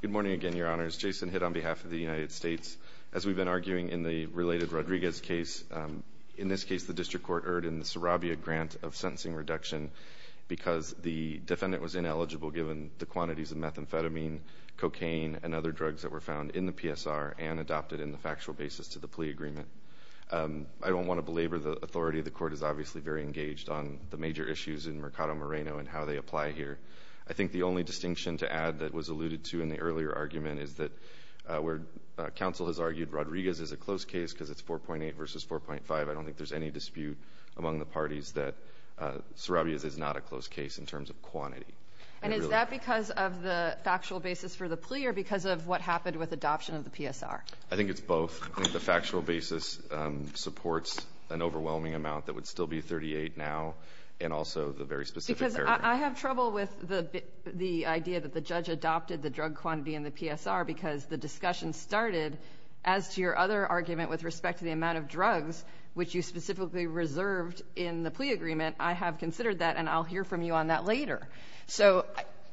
Good morning again, your honors. Jason Hitt on behalf of the United States. As we've been arguing in the related Rodriguez case, in this case the district court erred in the Sarabia grant of sentencing reduction because the defendant was ineligible given the quantities of methamphetamine, cocaine, and other drugs that were found in the PSR and adopted in the factual basis to the plea agreement. I don't want to belabor the authority. The court is obviously very engaged on the major issues in Mercado Moreno and how they alluded to in the earlier argument is that where counsel has argued Rodriguez is a close case because it's 4.8 versus 4.5, I don't think there's any dispute among the parties that Sarabia is not a close case in terms of quantity. And is that because of the factual basis for the plea or because of what happened with adoption of the PSR? I think it's both. The factual basis supports an overwhelming amount that would still be 38 now and also the very specific I have trouble with the idea that the judge adopted the drug quantity in the PSR because the discussion started as to your other argument with respect to the amount of drugs which you specifically reserved in the plea agreement. I have considered that, and I'll hear from you on that later. So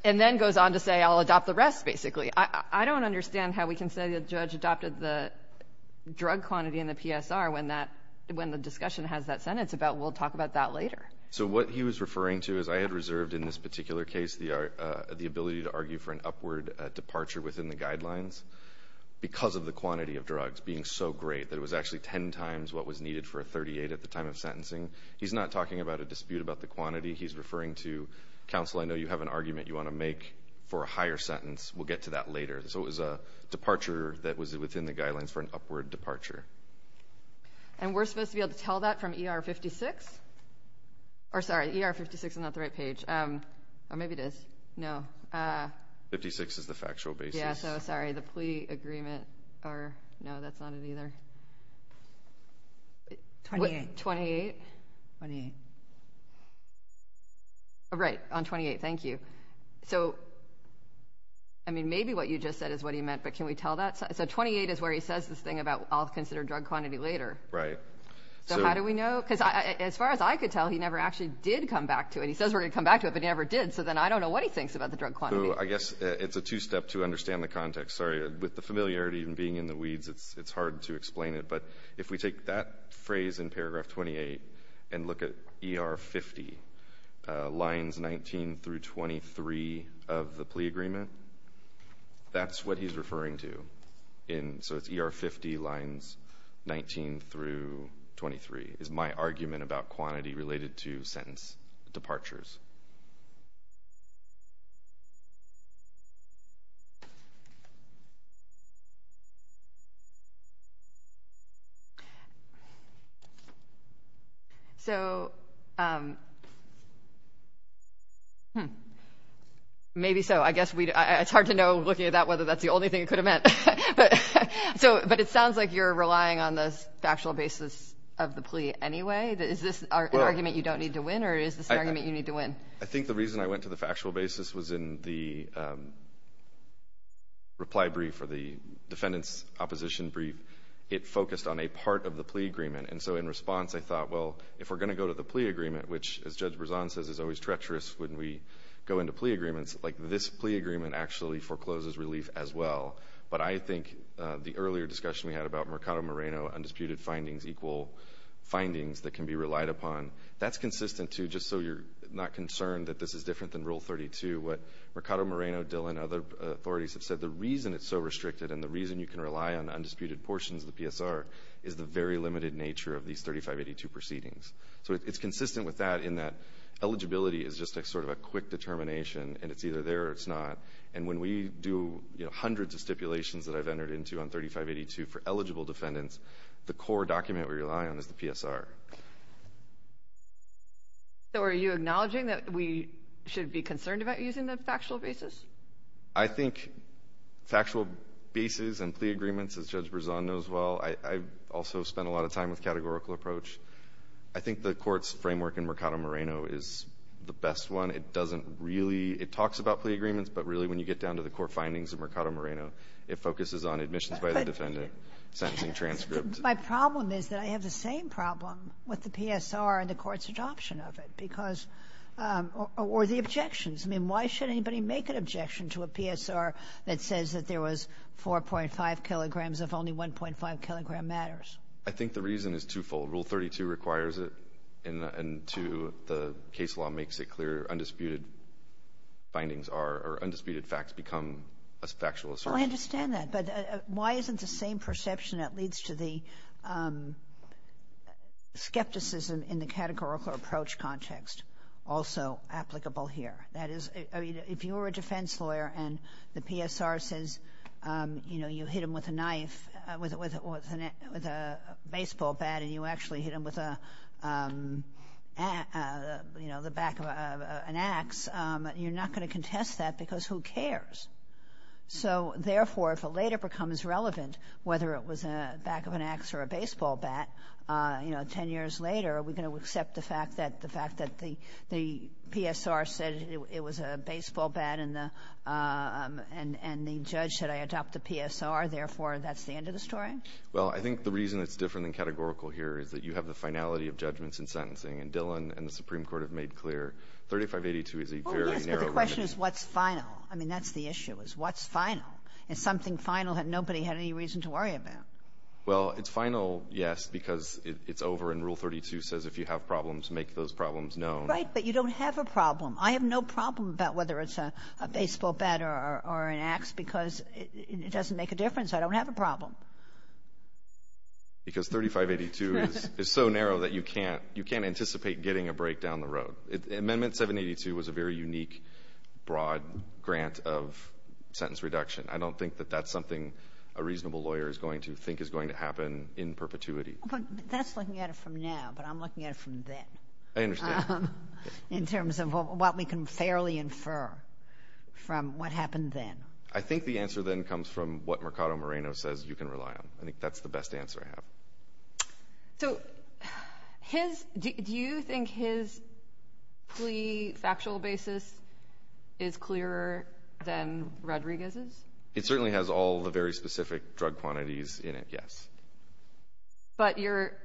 and then goes on to say I'll adopt the rest, basically. I don't understand how we can say the judge adopted the drug quantity in the PSR when the discussion has that sentence about we'll talk about that later. So what he was referring to is I had reserved in this particular case the ability to argue for an upward departure within the guidelines because of the quantity of drugs being so great that it was actually ten times what was needed for a 38 at the time of sentencing. He's not talking about a dispute about the quantity. He's referring to counsel. I know you have an argument you want to make for a higher sentence. We'll get to that later. So it was a departure that was within the guidelines for an upward departure. And we're supposed to be that from ER 56? Or sorry, ER 56 is not the right page. Or maybe it is. No. 56 is the factual basis. Yeah, so sorry, the plea agreement or no, that's not it either. 28. 28? 28. Right, on 28. Thank you. So I mean, maybe what you just said is what he meant, but can we tell that? So 28 is where he says this thing about I'll consider drug quantity later. Right. So how do we know? Because as far as I could tell, he never actually did come back to it. He says we're going to come back to it, but he never did. So then I don't know what he thinks about the drug quantity. I guess it's a two step to understand the context. Sorry. With the familiarity and being in the weeds, it's hard to explain it. But if we take that phrase in paragraph 28 and look at ER 50 lines 19 through 23 of the plea agreement, that's what he's referring to. So it's ER 50 lines 19 through 23 is my argument about quantity related to sentence departures. So maybe so. I guess it's hard to know, looking at that, whether that's the only thing it could have meant. But it sounds like you're relying on this factual basis of the plea agreement anyway. Is this an argument you don't need to win or is this an argument you need to win? I think the reason I went to the factual basis was in the reply brief for the defendant's opposition brief. It focused on a part of the plea agreement. And so in response, I thought, well, if we're going to go to the plea agreement, which as Judge Berzon says is always treacherous when we go into plea agreements, like this plea agreement actually forecloses relief as well. But I think the earlier discussion we had about Mercado Moreno undisputed findings equal findings that can be relied upon, that's consistent, too, just so you're not concerned that this is different than Rule 32. What Mercado Moreno, Dillon, other authorities have said, the reason it's so restricted and the reason you can rely on undisputed portions of the PSR is the very limited nature of these 3582 proceedings. So it's consistent with that in that eligibility is just sort of a quick determination and it's either there or it's not. And when we do, you know, hundreds of stipulations that I've entered into on 3582 for the court, the core document we rely on is the PSR. So are you acknowledging that we should be concerned about using the factual basis? I think factual basis and plea agreements, as Judge Berzon knows well, I've also spent a lot of time with categorical approach. I think the Court's framework in Mercado Moreno is the best one. It doesn't really – it talks about plea agreements, but really when you get down to the core findings of Mercado Moreno, it focuses on admissions by the defendant, sentencing transcripts. My problem is that I have the same problem with the PSR and the Court's adoption of it because – or the objections. I mean, why should anybody make an objection to a PSR that says that there was 4.5 kilograms if only 1.5 kilogram matters? I think the reason is twofold. Rule 32 requires it and 2, the case law makes it clear undisputed findings are – or undisputed facts become a factual assertion. Well, I understand that, but why isn't the same perception that leads to the skepticism in the categorical approach context also applicable here? That is – I mean, if you were a defense lawyer and the PSR says, you know, you hit him with a knife – with a baseball bat and you actually hit him with a – you know, the back of an axe, you're not going to contest that because who cares? So, therefore, if it later becomes relevant, whether it was a back of an axe or a baseball bat, you know, 10 years later, are we going to accept the fact that the fact that the PSR said it was a baseball bat and the judge said, I adopt the PSR, therefore, that's the end of the story? Well, I think the reason it's different than categorical here is that you have the finality of judgments and sentencing. And Dillon and the Supreme Court have made clear 3582 is a very narrow limit. But the question is, what's final? I mean, that's the issue, is what's final? Is something final that nobody had any reason to worry about? Well, it's final, yes, because it's over and Rule 32 says if you have problems, make those problems known. Right, but you don't have a problem. I have no problem about whether it's a baseball bat or an axe because it doesn't make a difference. I don't have a problem. Because 3582 is so narrow that you can't – you can't anticipate getting a break down the road. So, Amendment 782 was a very unique, broad grant of sentence reduction. I don't think that that's something a reasonable lawyer is going to think is going to happen in perpetuity. But that's looking at it from now, but I'm looking at it from then. I understand. In terms of what we can fairly infer from what happened then. I think the answer then comes from what Mercado Moreno says you can rely on. I think that's the best answer I have. So, his – do you think his plea factual basis is clearer than Rodriguez's? It certainly has all the very specific drug quantities in it, yes. But you're –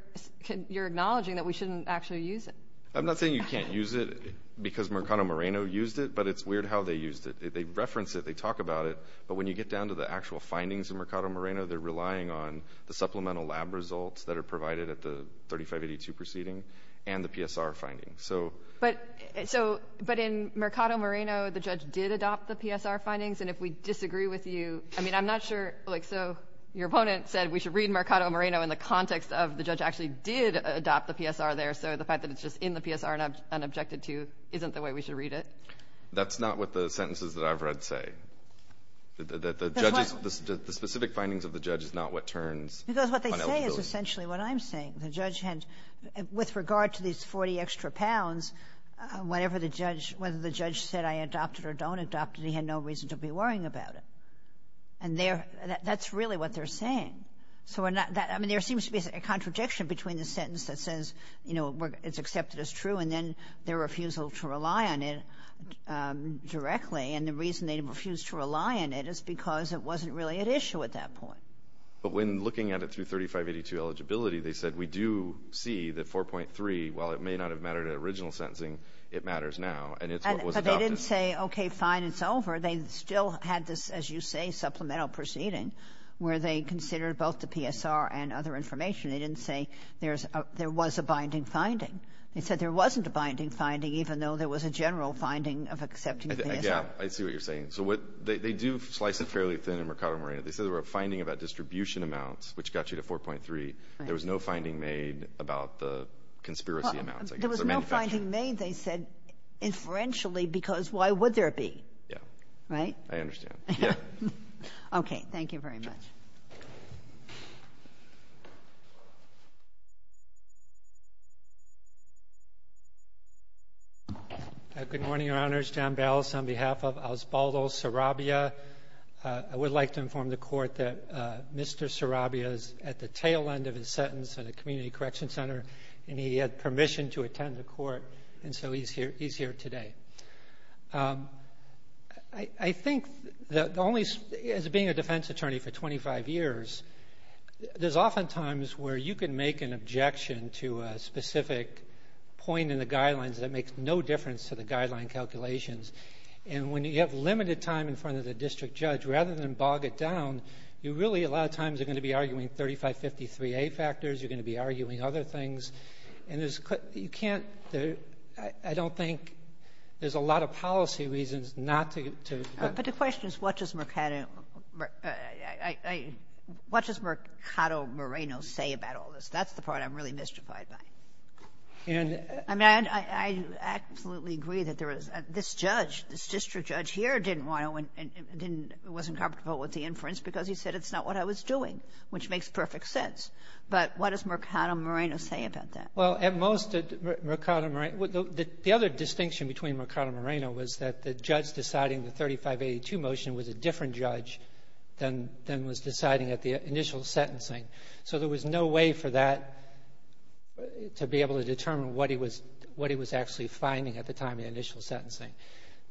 you're acknowledging that we shouldn't actually use it. I'm not saying you can't use it because Mercado Moreno used it, but it's weird how they used it. They reference it. They talk about it. But when you get down to the actual findings of Mercado Moreno, they're relying on the supplemental lab results that are provided at the 3582 proceeding and the PSR findings. So – But – so – but in Mercado Moreno, the judge did adopt the PSR findings, and if we disagree with you – I mean, I'm not sure – like, so, your opponent said we should read Mercado Moreno in the context of the judge actually did adopt the PSR there, so the fact that it's just in the PSR and objected to isn't the way we should read it. That's not what the sentences that I've read say. Because what they say is essentially what I'm saying. The judge had – with regard to these 40 extra pounds, whatever the judge – whether the judge said I adopted or don't adopt it, he had no reason to be worrying about it. And they're – that's really what they're saying. So we're not – I mean, there seems to be a contradiction between the sentence that says, you know, it's accepted as true, and then their refusal to rely on it directly, and the reason they refuse to rely on it is because it wasn't really at issue at that point. But when looking at it through 3582 eligibility, they said we do see that 4.3, while it may not have mattered at original sentencing, it matters now, and it's what was adopted. But they didn't say, okay, fine, it's over. They still had this, as you say, supplemental proceeding where they considered both the PSR and other information. They didn't say there was a binding finding. They said there wasn't a binding finding, even though there was a general finding of accepting the PSR. Yeah, I see what you're saying. So what – they do slice it fairly thin in Mercado Moreno. They said there were a finding about distribution amounts, which got you to 4.3. Right. There was no finding made about the conspiracy amounts, I guess, or manufacturing. Well, there was no finding made, they said, inferentially, because why would there be? Yeah. Right? I understand. Yeah. Okay. Thank you very much. Good morning, Your Honors. John Balas on behalf of Osbaldo Sarabia. I would like to inform the Court that Mr. Sarabia is at the tail end of his sentence in the Community Correction Center, and he had permission to attend the Court, and so he's here today. I think that the only – as being a defense attorney for 25 years, there's oftentimes where you can make an objection to a specific point in the guidelines that makes no difference to the guideline calculations. And when you have limited time in front of the district judge, rather than bog it down, you really a lot of times are going to be arguing 3553A factors, you're going to be arguing other things, and there's – you can't – I don't think there's a lot of policy reasons not to go to the court. But the question is, what does Mercado – what does Mercado Moreno say about all this? That's the part I'm really mystified by. And – I mean, I absolutely agree that there was – this judge, this district judge here didn't want to – wasn't comfortable with the inference because he said it's not what I was doing, which makes perfect sense. But what does Mercado Moreno say about that? Well, at most, Mercado Moreno – the other distinction between Mercado Moreno was that the judge deciding the 3582 motion was a different judge than was deciding at the initial sentencing. So there was no way for that – to be able to determine what he was – what he was actually finding at the time of the initial sentencing.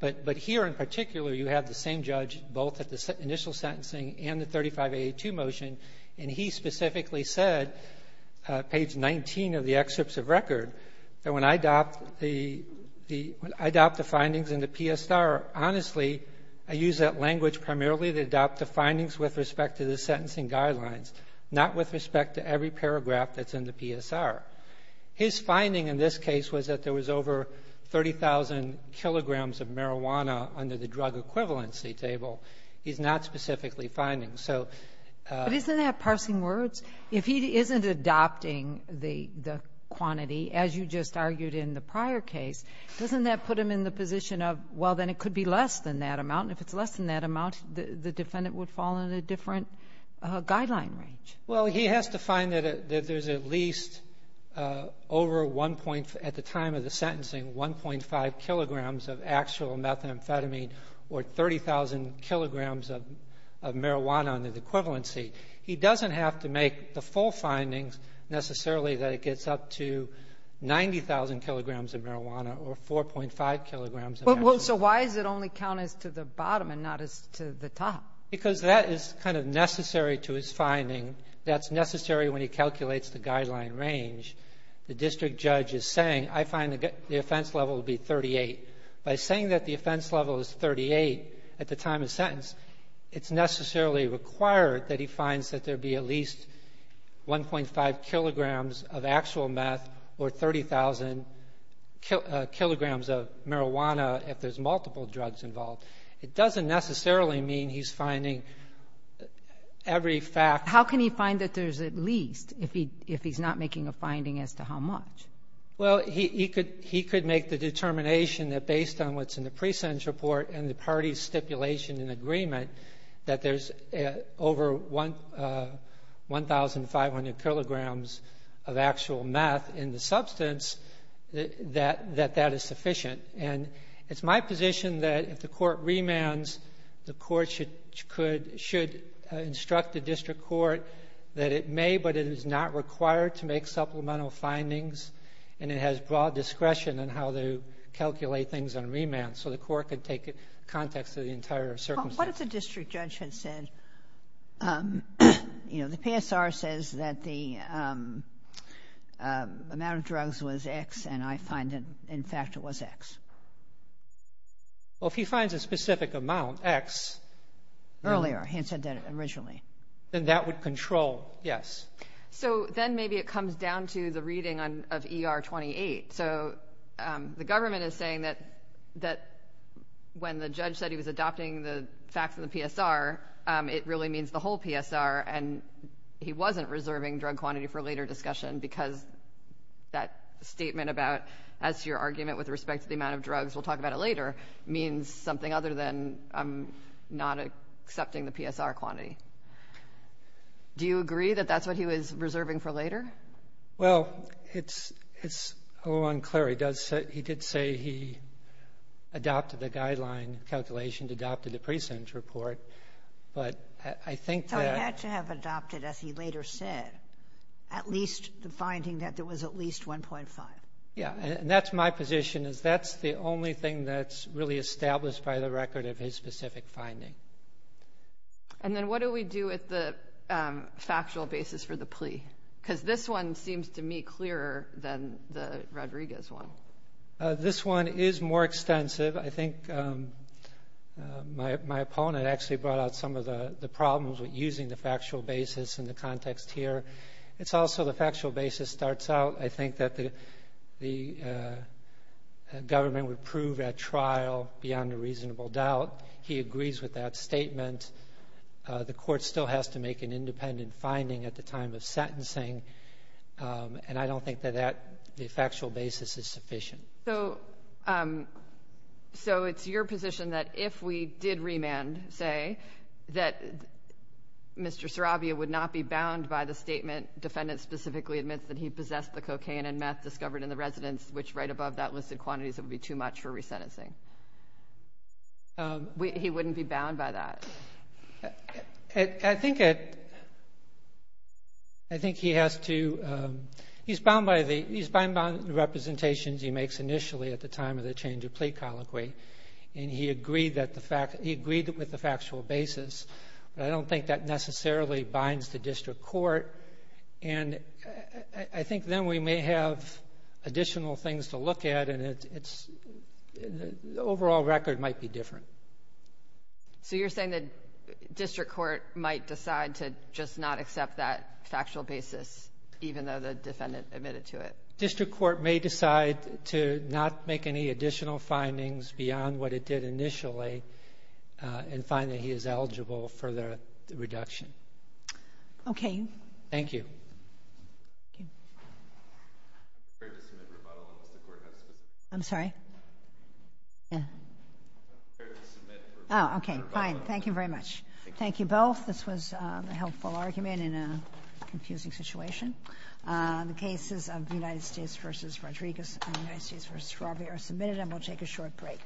But here in particular, you have the same judge, both at the initial sentencing and the 3582 motion, and he specifically said, page 19 of the excerpts of record, that when I adopt the – I adopt the findings in the PSR, honestly, I use that language primarily to adopt the findings with respect to the sentencing guidelines, not with respect to every paragraph that's in the PSR. His finding in this case was that there was over 30,000 kilograms of marijuana under the drug equivalency table. He's not specifically finding. So – But isn't that parsing words? If he isn't adopting the quantity, as you just argued in the prior case, doesn't that put him in the position of, well, then it could be less than that amount, and if it's less than that amount, the defendant would fall in a different guideline range? Well, he has to find that there's at least over one point – at the time of the sentencing, 1.5 kilograms of actual methamphetamine or 30,000 kilograms of marijuana under the equivalency. He doesn't have to make the full findings, necessarily, that it gets up to 90,000 kilograms Well, so why does it only count as to the bottom and not as to the top? Because that is kind of necessary to his finding, that's necessary when he calculates the guideline range. The district judge is saying, I find the offense level to be 38. By saying that the offense level is 38 at the time of sentence, it's necessarily required that he finds that there be at least 1.5 kilograms of actual meth or 30,000 kilograms of marijuana if there's multiple drugs involved. It doesn't necessarily mean he's finding every fact. How can he find that there's at least if he's not making a finding as to how much? Well, he could make the determination that based on what's in the pre-sentence report and the party's stipulation and agreement that there's over 1,500 kilograms of actual meth in the substance, that that is sufficient. And it's my position that if the court remands, the court should instruct the district court that it may, but it is not required to make supplemental findings and it has broad discretion in how they calculate things on remand so the court could take it in the context of the entire circumstance. What if the district judge had said, you know, the PSR says that the amount of drugs was X and I find that, in fact, it was X. Well, if he finds a specific amount, X. Earlier, he had said that originally. Then that would control, yes. So then maybe it comes down to the reading of ER 28. So the government is saying that when the judge said he was adopting the facts of the PSR, it really means the whole PSR and he wasn't reserving drug quantity for later discussion because that statement about, as to your argument with respect to the amount of drugs, we'll talk about it later, means something other than not accepting the PSR quantity. Do you agree that that's what he was reserving for later? Well, it's a little unclear. He did say he adopted the guideline calculation, adopted the present report, but I think that So he had to have adopted, as he later said, at least the finding that there was at least 1.5. Yeah. And that's my position, is that's the only thing that's really established by the record of his specific finding. And then what do we do with the factual basis for the plea? Because this one seems to me clearer than the Rodriguez one. This one is more extensive. I think my opponent actually brought out some of the problems with using the factual basis in the context here. It's also the factual basis starts out, I think that the government would prove at trial beyond a reasonable doubt. He agrees with that statement. The court still has to make an independent finding at the time of sentencing. And I don't think that that factual basis is sufficient. So it's your position that if we did remand, say, that Mr. Sarabia would not be bound by the statement, defendant specifically admits that he possessed the cocaine and meth discovered in the residence, which right above that listed quantities, it would be too much for resentencing. He wouldn't be bound by that. I think he has to, he's bound by the representations he makes initially at the time of the change of plea colloquy. And he agreed that the fact, he agreed with the factual basis, but I don't think that necessarily binds the district court. And I think then we may have additional things to look at, and it's, the overall record might be different. So you're saying that district court might decide to just not accept that factual basis, even though the defendant admitted to it? District court may decide to not make any additional findings beyond what it did initially and find that he is eligible for the reduction. Okay. Thank you. I'm sorry. Yeah. Oh, okay. Fine. Thank you very much. Thank you both. This was a helpful argument in a confusing situation. The cases of United States v. Rodriguez and United States v. Sarabia are submitted, and we'll take a short break.